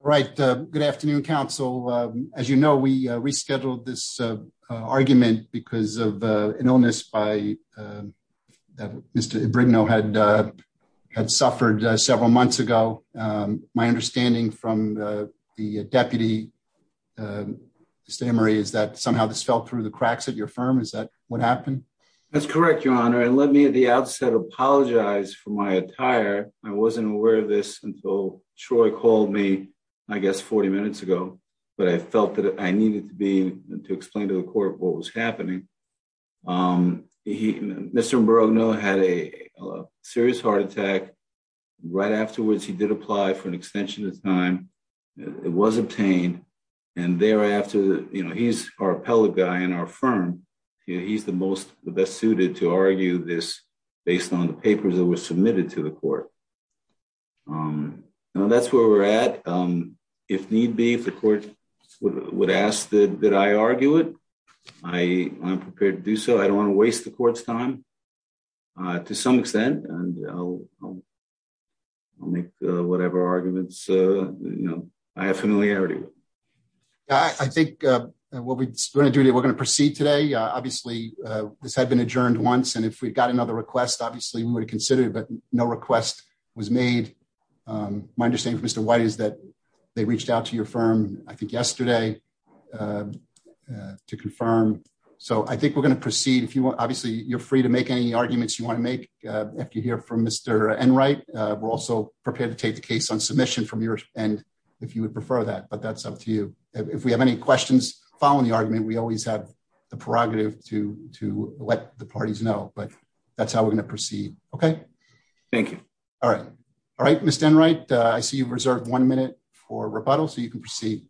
Right. Good afternoon, Council. As you know, we rescheduled this argument because of an illness that Mr. Ibrigno had suffered several months ago. My understanding from the deputy, Mr. Emery, is that somehow this fell through the cracks at your firm? Is that what happened? That's correct, Your Honor. And let me at the outset apologize for my attire. I wasn't aware until Troy called me, I guess, 40 minutes ago. But I felt that I needed to explain to the court what was happening. Mr. Ibrigno had a serious heart attack. Right afterwards, he did apply for an extension of time. It was obtained. And thereafter, he's our appellate guy in our firm. He's the best suited to argue this based on the papers that were submitted to the court. That's where we're at. If need be, if the court would ask that I argue it, I'm prepared to do so. I don't want to waste the court's time to some extent. And I'll make whatever arguments I have familiarity with. I think what we're going to do today, we're going to proceed today. Obviously, this had been adjourned once. And if we got another request, obviously, we would have considered it. But no request was made. My understanding from Mr. White is that they reached out to your firm, I think, yesterday to confirm. So I think we're going to proceed. Obviously, you're free to make any arguments you want to make after you hear from Mr. Enright. We're also prepared to take the case on submission from your end if you would prefer that. But that's up to you. If we have any questions following the argument, we always have the prerogative to let the parties know. But that's how we're going to proceed. Okay. Thank you. All right. All right, Mr. Enright, I see you've reserved one minute for rebuttal, so you can proceed.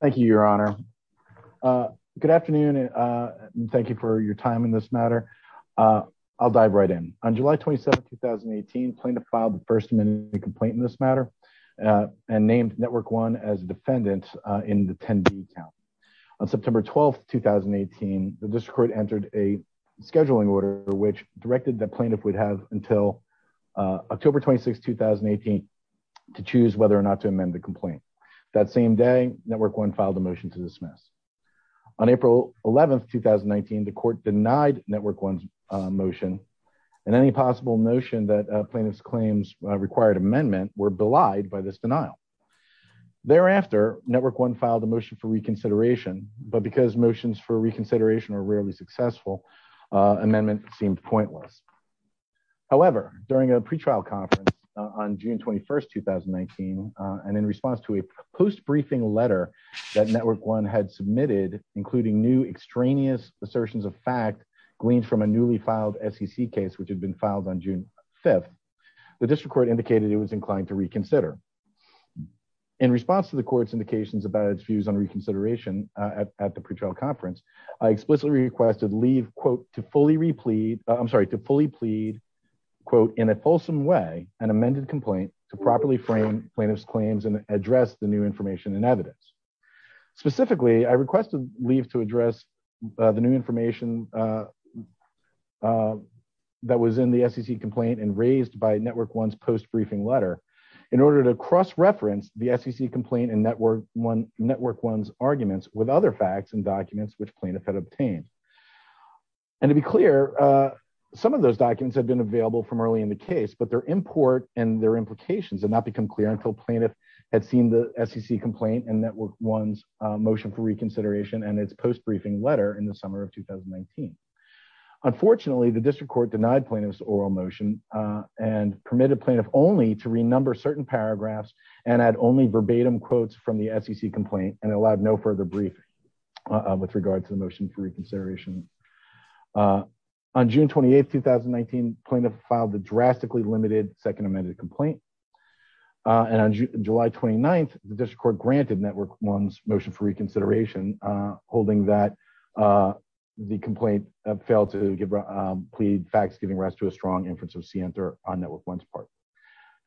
Thank you, Your Honor. Good afternoon. Thank you for your time in this matter. I'll dive right in. On July 27, 2018, plaintiff filed the first amendment complaint in this the district court entered a scheduling order which directed the plaintiff would have until October 26, 2018 to choose whether or not to amend the complaint. That same day, Network One filed a motion to dismiss. On April 11, 2019, the court denied Network One's motion and any possible notion that plaintiff's claims required amendment were belied by this denial. Thereafter, Network One filed a motion for reconsideration, but because motions for reconsideration are rarely successful, amendment seemed pointless. However, during a pretrial conference on June 21, 2019, and in response to a post-briefing letter that Network One had submitted, including new extraneous assertions of fact gleaned from a newly filed SEC case, which had been filed on June 5, the district court indicated it was inclined to reconsider. In response to the court's indications about its views on reconsideration at the pretrial conference, I explicitly requested leave, quote, to fully replead, I'm sorry, to fully plead, quote, in a fulsome way, an amended complaint to properly frame plaintiff's claims and address the new information and evidence. Specifically, I requested leave to address the new information that was in the SEC complaint and raised by Network One's post-briefing letter in order to cross-reference the SEC complaint and Network One's arguments with other facts and documents which plaintiff had obtained. And to be clear, some of those documents had been available from early in the case, but their import and their implications had not become clear until plaintiff had seen the SEC complaint and Network One's motion for reconsideration and its post-briefing letter in the summer of 2019. Unfortunately, the district court denied plaintiff's oral motion and permitted plaintiff only to renumber certain paragraphs and add only verbatim quotes from the SEC complaint and allowed no further briefing with regard to the motion for reconsideration. On June 28, 2019, plaintiff filed the drastically limited second amended complaint and on July 29, the district court granted Network One's motion for reconsideration, holding that the complaint failed to plead facts giving rise to a strong inference of scienter on Network One's part.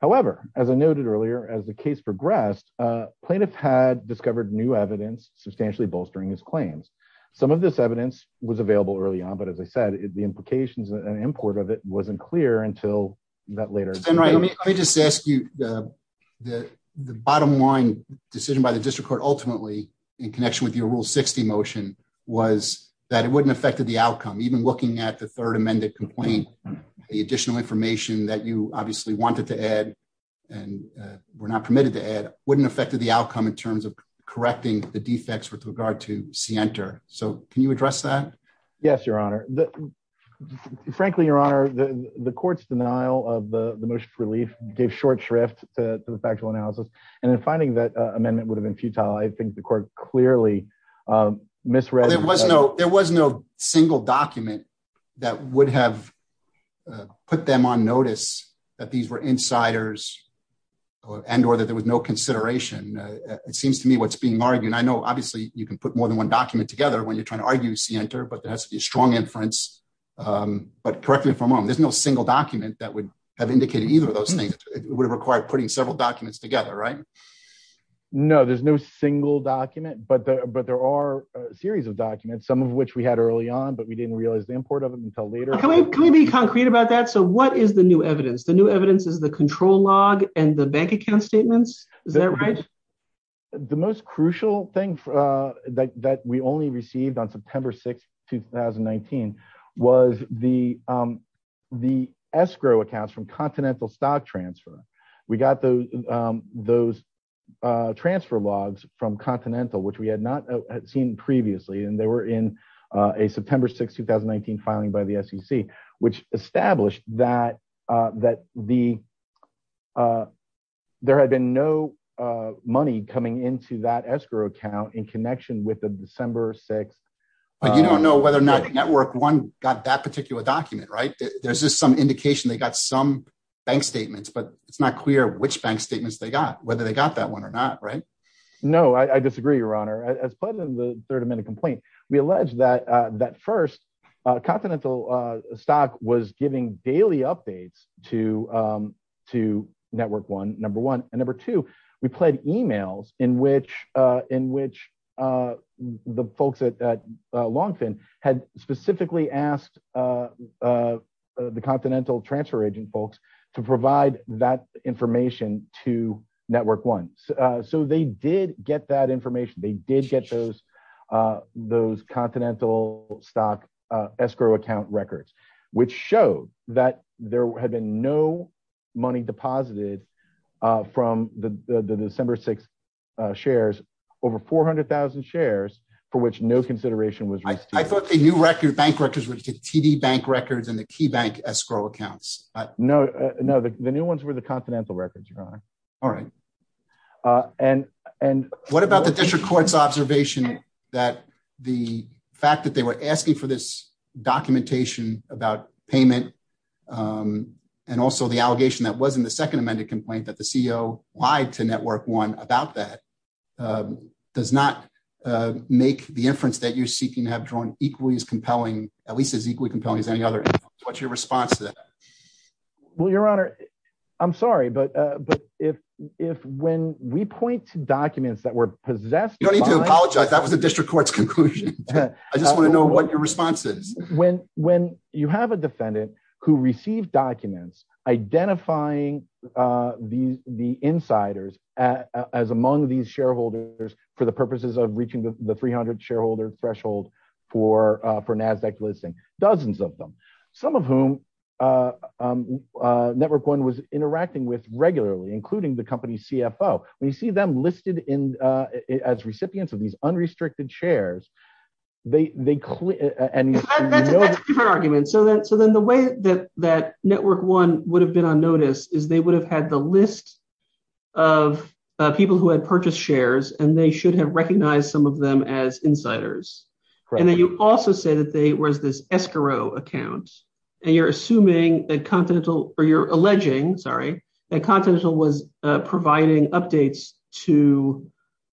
However, as I noted earlier, as the case progressed, plaintiff had discovered new evidence substantially bolstering his claims. Some of this evidence was available early on, but as I said, the implications and import of it wasn't clear until that later. Let me just ask you the bottom line decision by the district court ultimately in connection with your rule 60 motion was that it wouldn't affect the outcome. Even looking at the third amended complaint, the additional information that you obviously wanted to add and were not permitted to add wouldn't affect the outcome in terms of correcting the defects with regard to scienter. So can you address that? Yes, your honor. Frankly, your honor, the court's denial of the most relief gave short shrift to the factual analysis and then finding that amendment would have been futile. I think the court clearly misread. There was no single document that would have put them on notice that these were insiders and or that there was no consideration. It seems to me what's being argued. I know obviously you can put more than one document together when you're trying to argue scienter, but there has to be a strong inference. But correctly from home, there's no single document that would have indicated either of those things. It would require putting several documents together, right? No, there's no single document, but there are a series of documents, some of which we had early on, but we didn't realize the import of them until later. Can we be concrete about that? So what is the new evidence? The new evidence is the control log and the bank account statements. Is that right? The most crucial thing that we only received on We got those transfer logs from Continental, which we had not seen previously. And they were in a September 6, 2019 filing by the SEC, which established that there had been no money coming into that escrow account in connection with the December 6. But you don't know whether or not the network one got that particular document, right? There's just some bank statements, but it's not clear which bank statements they got, whether they got that one or not, right? No, I disagree, Your Honor. As part of the third amendment complaint, we allege that that first Continental stock was giving daily updates to network one, number one, and number two, we pled emails in which the folks at Longfin had specifically asked the Continental transfer agent folks to provide that information to network one. So they did get that information. They did get those Continental stock escrow account records, which showed that there had been no money deposited from the December 6 shares, over 400,000 shares for which no consideration was I thought the new record bank records were TV bank records and the key bank escrow accounts. No, no, the new ones were the Continental records, Your Honor. All right. And, and what about the district court's observation that the fact that they were asking for this documentation about payment and also the allegation that was in the second amended complaint that the CEO lied to compelling, at least as equally compelling as any other. What's your response to that? Well, Your Honor, I'm sorry, but, but if, if when we point to documents that were possessed, You don't need to apologize. That was the district court's conclusion. I just want to know what your response is. When, when you have a defendant who received documents, identifying these, the insiders as among these shareholders for the purposes of reaching the 300 shareholder threshold for NASDAQ listing, dozens of them, some of whom Network One was interacting with regularly, including the company's CFO. When you see them listed in as recipients of these unrestricted shares, they, they, and that's a different argument. So then, so then the way that, that Network One would have been on notice is they would have had the list of people who had purchased shares and they should have recognized some of them as insiders. And then you also say that they was this escrow account and you're assuming that Continental or you're alleging, sorry, that Continental was providing updates to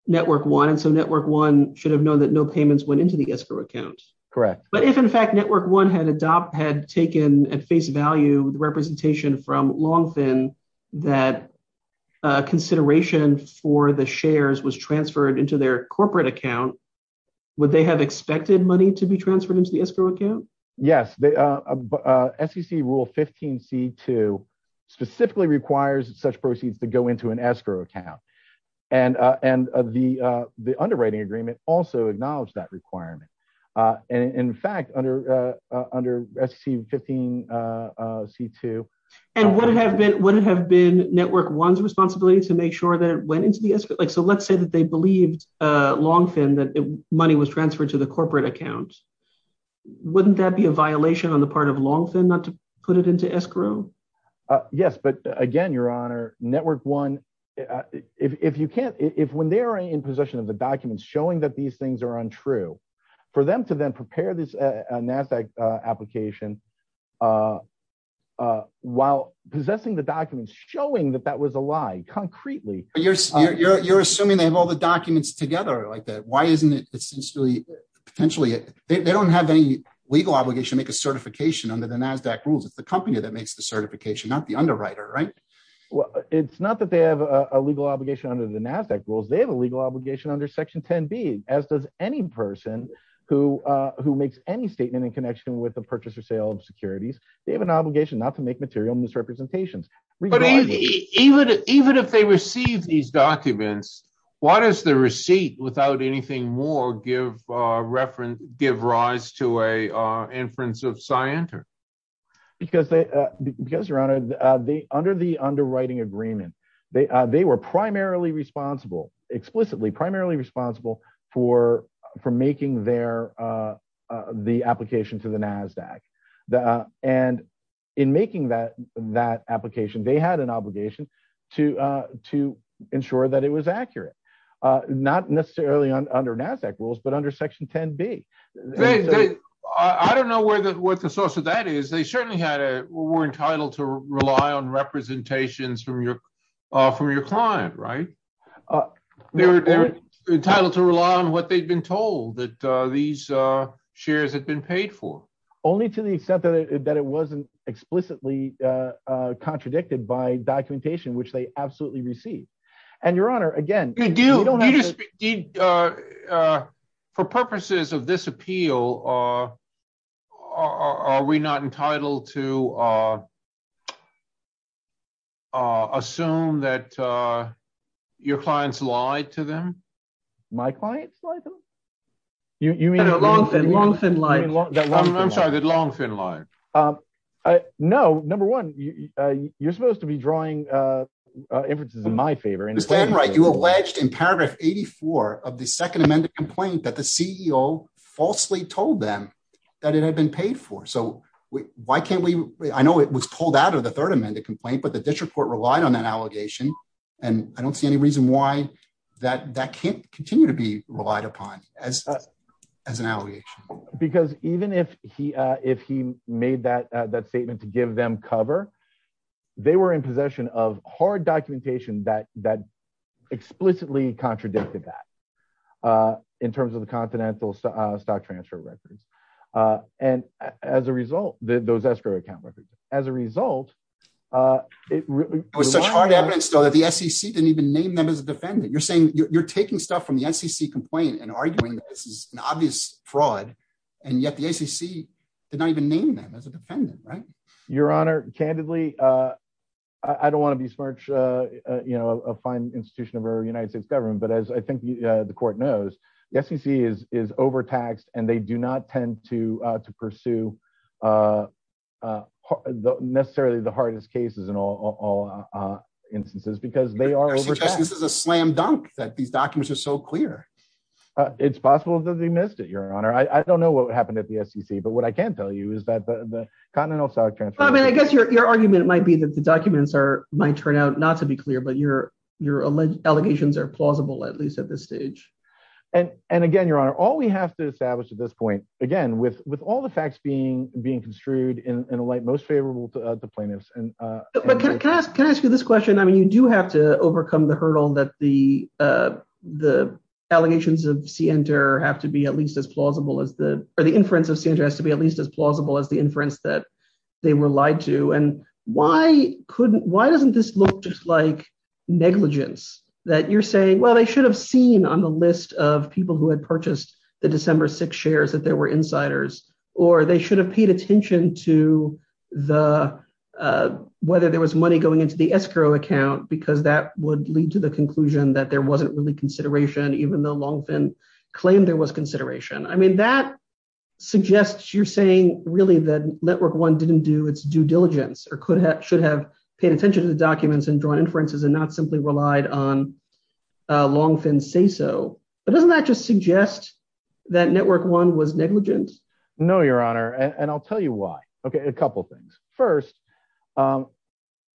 Network One. And so Network One should have known that no payments went into the escrow account. Correct. But if in fact, Network One had adopt, had taken at face value, the representation from Longfin that consideration for the shares was transferred into their corporate account, would they have expected money to be transferred into the escrow account? Yes. They, SEC rule 15C2 specifically requires such proceeds to go into an escrow account. And, and the, the underwriting agreement also acknowledged that requirement. And in fact, under, under SEC 15C2. And would it have been, would it have been Network One's responsibility to make sure that it went into the escrow? Like, so let's say that they believed Longfin that money was transferred to the corporate account. Wouldn't that be a violation on the part of Longfin not to put it into escrow? Yes. But again, Your Honor, Network One, if you can't, if, when they're in possession of the documents showing that these things are untrue for them to then prepare this NASDAQ application while possessing the documents showing that that was a lie, concretely. You're, you're, you're assuming they have all the documents together like that. Why isn't it potentially, they don't have any legal obligation to make a certification under the NASDAQ rules. It's the company that makes the certification, not the underwriter, right? Well, it's not that they have a legal obligation under the NASDAQ rules. They have a legal obligation under section 10B, as does any person who, who makes any statement in connection with the purchase or sale of securities. They have an obligation not to make material misrepresentations. But even, even if they receive these documents, why does the receipt without anything more give reference, give rise to a inference of scienter? Because they, because Your Honor, they, under the underwriting agreement, they, they were primarily responsible, explicitly primarily responsible for, for making their, the application to the NASDAQ. And in making that, that application, they had an obligation to, to ensure that it was accurate. Not necessarily under NASDAQ rules, but under section 10B. I don't know where the, what the source of that is. They certainly had a, were entitled to rely on representations from your, from your client, right? They were entitled to rely on what they'd been told that these shares had been paid for. Only to the extent that it, that it wasn't explicitly contradicted by documentation, which they absolutely received. And Your Honor, again, for purposes of this appeal, are we not entitled to assume that your clients lied to them? My clients? You mean a long, thin, long, thin line? I'm sorry, that long, thin line. No, number one, you're supposed to be drawing inferences in my favor. Ms. Danwright, you alleged in paragraph 84 of the second amended complaint that the CEO falsely told them that it had been paid for. So why can't we, I know it was pulled out of third amended complaint, but the district court relied on that allegation. And I don't see any reason why that, that can't continue to be relied upon as, as an allegation. Because even if he, if he made that, that statement to give them cover, they were in possession of hard documentation that, that explicitly contradicted that in terms of the continental stock transfer records. And as a result, those escrow account records, as a result, it really was such hard evidence though that the SEC didn't even name them as a defendant. You're saying you're taking stuff from the SEC complaint and arguing that this is an obvious fraud. And yet the SEC did not even name them as a defendant, right? Your Honor, candidly, I don't want to be smart, you know, a fine institution of our United States government. But as I think the court knows, the SEC is, is overtaxed and they do not tend to, to pursue necessarily the hardest cases in all instances, because they are overtaxed. This is a slam dunk that these documents are so clear. It's possible that they missed it, Your Honor. I don't know what happened at the SEC, but what I can tell you is that the continental stock transfer. I mean, I guess your, your argument might be that the documents are, might turn out not to be clear, but your, your allegations are plausible, at least at this stage. And, and again, Your Honor, all we have to establish at this point, again, with, with all the facts being, being construed in a light most favorable to the plaintiffs. But can I ask, can I ask you this question? I mean, you do have to overcome the hurdle that the, the allegations of CNTR have to be at least as plausible as the, or the inference of CNTR has to be at least as plausible as the inference that they were lied to. And why couldn't, why doesn't this look just like negligence that you're saying, well, they should have seen on the list of people who had purchased the December 6 shares that there were insiders, or they should have paid attention to the, whether there was money going into the escrow account, because that would lead to the conclusion that there wasn't really consideration, even though Longfin claimed there was consideration. I mean, that suggests you're saying really that Network One didn't do its due diligence or could have, should have paid attention to the documents and drawn inferences and not simply relied on But doesn't that just suggest that Network One was negligent? No, Your Honor. And I'll tell you why. Okay. A couple of things. First,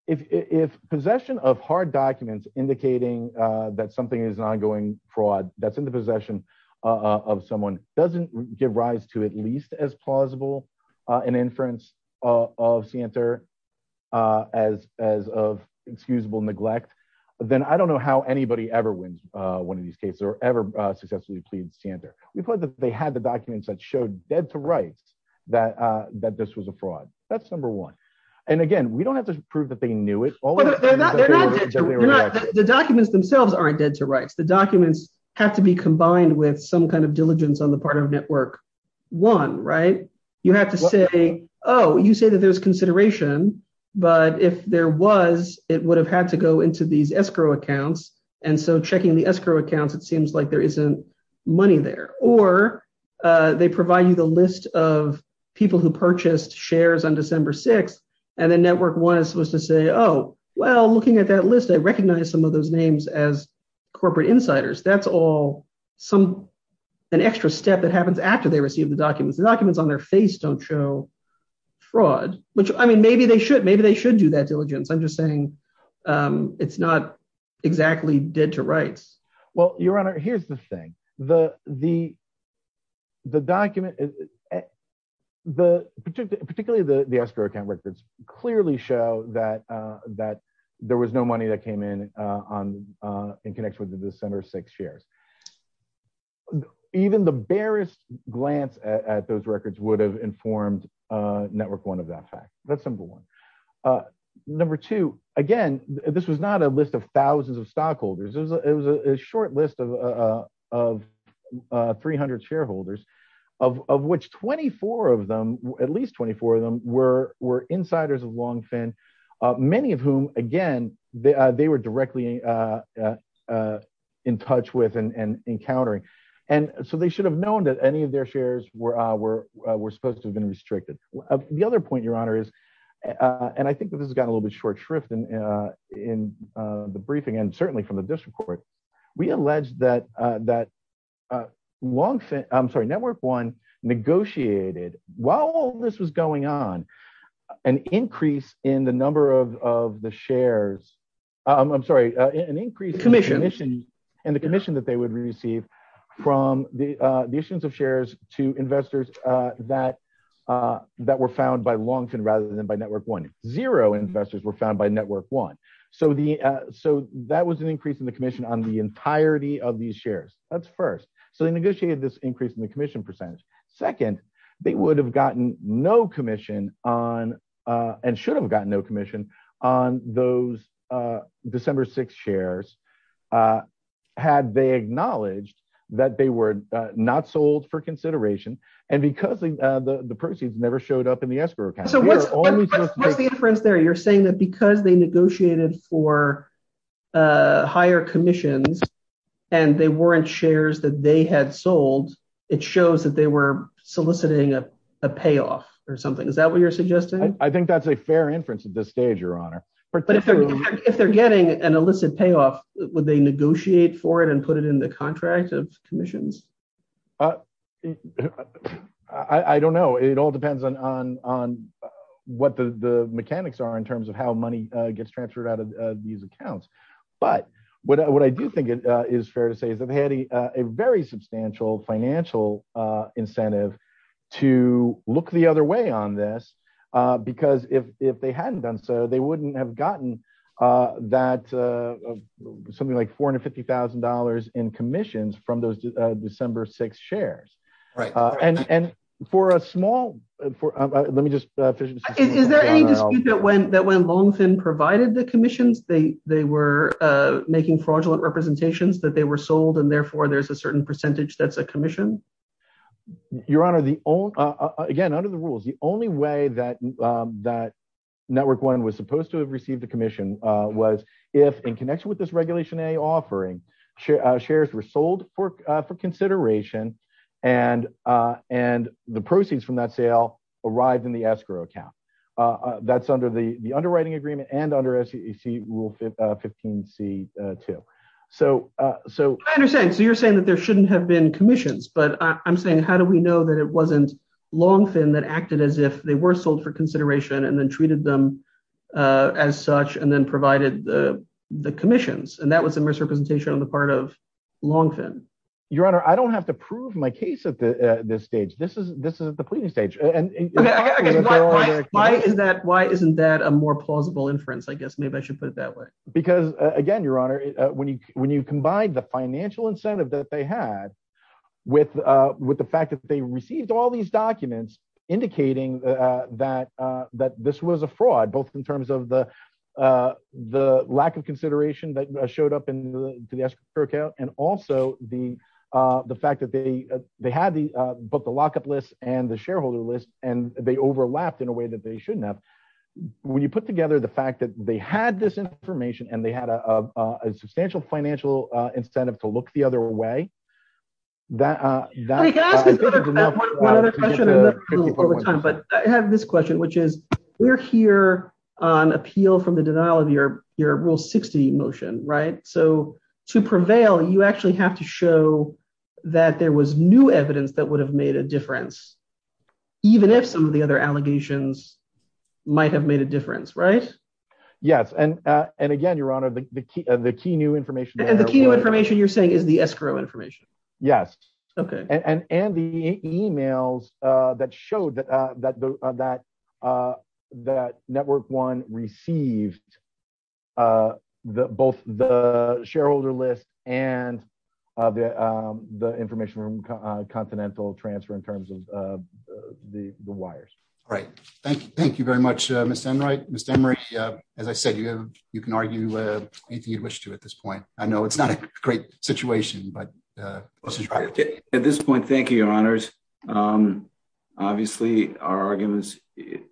if, if possession of hard documents indicating that something is ongoing fraud, that's in the possession of someone doesn't give rise to at least as plausible an inference of CNTR as, as of excusable neglect, then I don't know how anybody ever wins one of these cases, or ever successfully plead CNTR. We've heard that they had the documents that showed dead to rights that, that this was a fraud. That's number one. And again, we don't have to prove that they knew it. The documents themselves aren't dead to rights. The documents have to be combined with some kind of diligence on the part of Network One, right? You have to say, oh, you say that there's consideration, but if there was, it would have had to go into these escrow accounts. And so checking the escrow accounts, it seems like there isn't money there, or they provide you the list of people who purchased shares on December 6th. And then Network One is supposed to say, oh, well, looking at that list, I recognize some of those names as corporate insiders. That's all some, an extra step that happens after they received the documents. The documents on their face don't show fraud, which I mean, maybe they should, maybe they should do that diligence. I'm not exactly dead to rights. Well, your honor, here's the thing. The, the, the document, the particular, particularly the escrow account records clearly show that that there was no money that came in on in connection with the December 6th shares. Even the barest glance at those records would have informed Network One of that fact. That's simple one. Number two, again, this was not a list of thousands of stockholders. It was a, it was a short list of, of 300 shareholders of which 24 of them, at least 24 of them were, were insiders of Longfin, many of whom, again, they, they were directly in touch with and encountering. And so they should have known that any of their shares were, were, were supposed to have been restricted. The other point your short shrift in, in the briefing and certainly from the district court, we alleged that, that Longfin, I'm sorry, Network One negotiated while this was going on an increase in the number of, of the shares, I'm sorry, an increase in the commission and the commission that they would receive from the, the issuance of shares to investors that, that were found by Longfin rather than by Network One. Zero investors were found by Network One. So the, so that was an increase in the commission on the entirety of these shares. That's first. So they negotiated this increase in the commission percentage. Second, they would have gotten no commission on, and should have gotten no commission on those December 6th shares, had they acknowledged that they were not sold for consideration and because the, the proceeds never showed up in the escrow account. So what's the difference there? You're saying that because they negotiated for a higher commissions and they weren't shares that they had sold, it shows that they were soliciting a payoff or something. Is that what you're suggesting? I think that's a fair inference at this stage, your honor. But if they're getting an illicit payoff, would they negotiate for it and it in the contract of commissions? I don't know. It all depends on, on, on what the mechanics are in terms of how money gets transferred out of these accounts. But what I do think it is fair to say is that they had a very substantial financial incentive to look the other way on this because if, if they hadn't done so they wouldn't have gotten that something like $450,000 in commissions from those December 6th shares. Right. And, and for a small, for, let me just. Is there any dispute that when, that when Longfin provided the commissions, they, they were making fraudulent representations that they were sold and therefore there's a certain percentage that's a commission? Your honor, the only, again, under the rules, the only way that, that Network One was supposed to have received a commission was if in connection with this Regulation A offering, shares were sold for, for consideration and, and the proceeds from that sale arrived in the escrow account. That's under the, the underwriting agreement and under SEC Rule 15C2. So, so. I understand. So you're saying that there shouldn't have been commissions, but I'm saying, how do we know that it wasn't Longfin that acted as if they were sold for consideration and then treated them as such and then provided the, the commissions? And that was a misrepresentation on the part of Longfin. Your honor, I don't have to prove my case at the, at this stage. This is, this is at the pleading stage. Why is that? Why isn't that a more plausible inference? I guess we could look the other way, that, that. I have this question, which is we're here on appeal from the denial of your rule 60 motion. Right? So to prevail, you actually have to show that there was new evidence that would have made a difference, even if some of the other allegations might have made a difference, right? Yes. And, and again, your honor, the the key, the key new information. And the key new information you're saying is the escrow information. Yes. Okay. And, and, and the emails that showed that, that, that, that, that network one received the, both the shareholder list and the, the information room continental transfer in terms of the wires. Right. Thank you. Thank you very much, Mr. Enright. Mr. Enright, as I said, you have, you can argue anything you'd I know it's not a great situation, but at this point, thank you, your honors. Um, obviously our arguments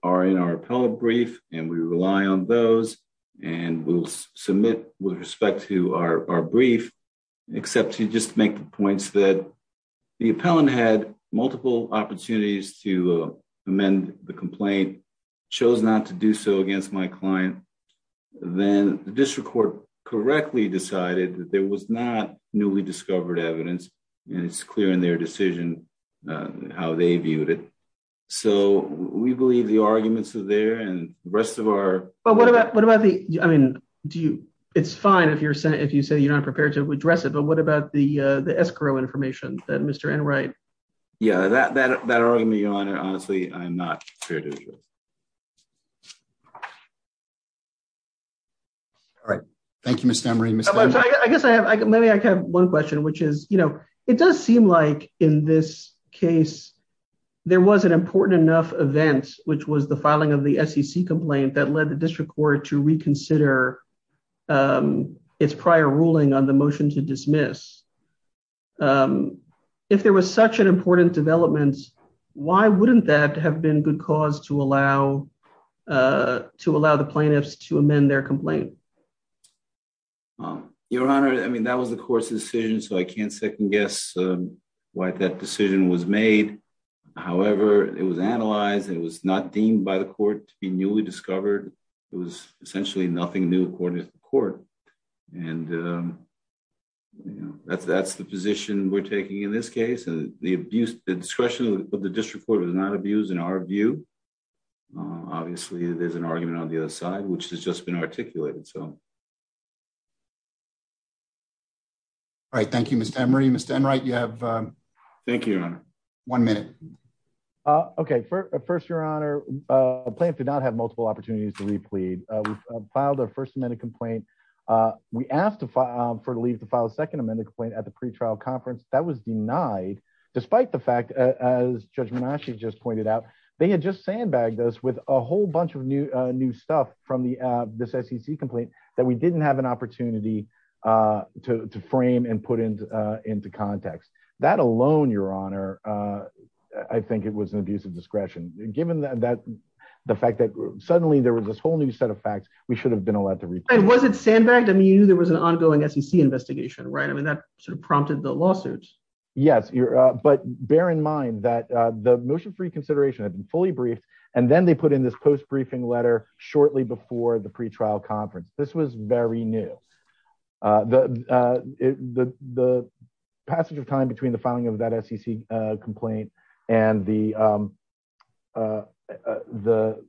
are in our appellate brief and we rely on those and we'll submit with respect to our, our brief, except to just make the points that the appellant had multiple opportunities to amend the complaint, chose not to do so against my client. Then the district court correctly decided that there was not newly discovered evidence and it's clear in their decision, uh, how they viewed it. So we believe the arguments are there and the rest of our, but what about, what about the, I mean, do you, it's fine if you're saying, if you say you're not prepared to address it, but what about the, uh, the escrow information that Mr. Yeah, that, that, that argument, your honor, honestly, I'm not prepared to address. All right. Thank you, Mr. Enright. I guess I have, maybe I can have one question, which is, you know, it does seem like in this case, there was an important enough event, which was the filing of the SEC complaint that led the district court to reconsider, um, its prior ruling on the dismiss. Um, if there was such an important development, why wouldn't that have been good cause to allow, uh, to allow the plaintiffs to amend their complaint? Um, your honor, I mean, that was the court's decision. So I can't second guess, um, why that decision was made. However, it was analyzed and it was not deemed by the court to be newly discovered. It was essentially nothing new according to the court. And, um, you know, that's, that's the position we're taking in this case. And the abuse, the discretion of the district court was not abused in our view. Obviously there's an argument on the other side, which has just been articulated. So all right. Thank you, Mr. Emery, Mr. Enright. You have, um, thank you, your honor. One minute. Uh, okay. First, your honor, uh, plaintiff did not have multiple opportunities to replead. Uh, we filed our first amendment complaint. Uh, we asked to, um, for leave to file a second amendment complaint at the pretrial conference that was denied despite the fact, uh, as judgment actually just pointed out, they had just sandbagged us with a whole bunch of new, uh, new stuff from the, uh, this SEC complaint that we didn't have an opportunity, uh, to, to frame and put into, uh, into context that alone, your honor. Uh, I think it was an abuse of discretion given that, that fact that suddenly there was this whole new set of facts we should have been allowed to report. Was it sandbagged? I mean, you knew there was an ongoing SEC investigation, right? I mean, that sort of prompted the lawsuits. Yes. But bear in mind that, uh, the motion for reconsideration had been fully briefed. And then they put in this post briefing letter shortly before the pretrial conference. This was very new. Uh, the, uh, the, the passage of time between the filing of that SEC, uh, complaint and the, um, uh, uh, the,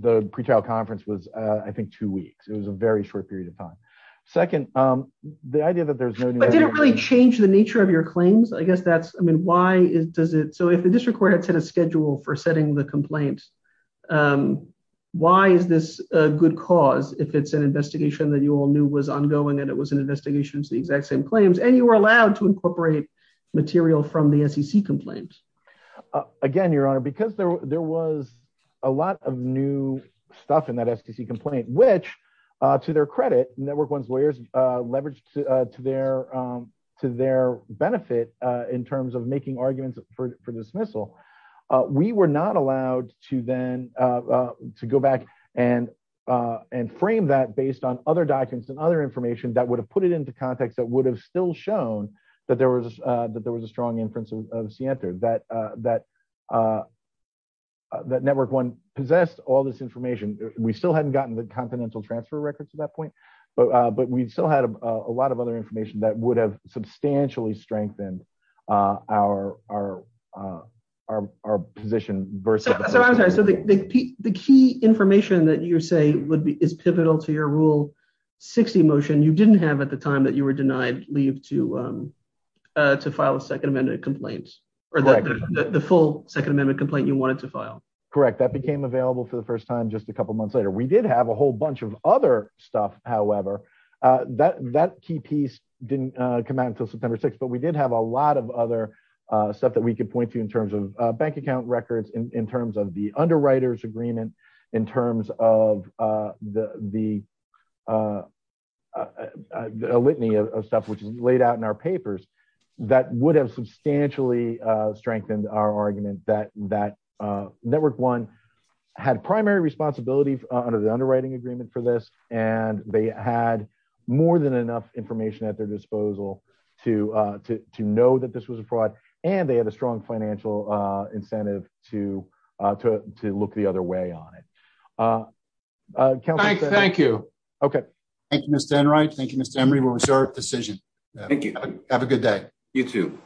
the pretrial conference was, uh, I think two weeks. It was a very short period of time. Second, um, the idea that there's no, but didn't really change the nature of your claims. I guess that's, I mean, why is, does it? So if the district court had set a schedule for setting the complaints, um, why is this a good cause? If it's an investigation that you all knew was ongoing and it was an investigation, the exact same claims, and you were allowed to incorporate material from the SEC complaints. Again, your honor, because there, there was a lot of new stuff in that SEC complaint, which, uh, to their credit network, one's lawyers, uh, leveraged, uh, to their, um, to their benefit, uh, in terms of making arguments for dismissal, uh, we were not allowed to then, uh, uh, to go back and, uh, and frame that based on other documents and other information that would put it into context that would have still shown that there was, uh, that there was a strong inference of Sienta that, uh, that, uh, uh, that network one possessed all this information. We still hadn't gotten the continental transfer records at that point, but, uh, but we'd still had a lot of other information that would have substantially strengthened, uh, our, our, uh, our, our position. So the key information that you're saying would be, is pivotal to your rule 60 motion you didn't have at the time that you were denied leave to, um, uh, to file a second amendment complaints or the full second amendment complaint you wanted to file. Correct. That became available for the first time, just a couple of months later, we did have a whole bunch of other stuff. However, uh, that, that key piece didn't come out until September 6th, but we did have a lot of other, uh, stuff that we could point to in terms of, uh, bank account in terms of the underwriters agreement in terms of, uh, the, the, uh, uh, uh, the litany of stuff, which is laid out in our papers that would have substantially, uh, strengthened our argument that, that, uh, network one had primary responsibility under the underwriting agreement for this. And they had more than enough information at their disposal to, uh, to, to know that this and they had a strong financial, uh, incentive to, uh, to, to look the other way on it. Uh, thank you. Okay. Thank you, Mr. Enright. Thank you, Mr. Emery. We'll reserve decision. Thank you. Have a good day. You too.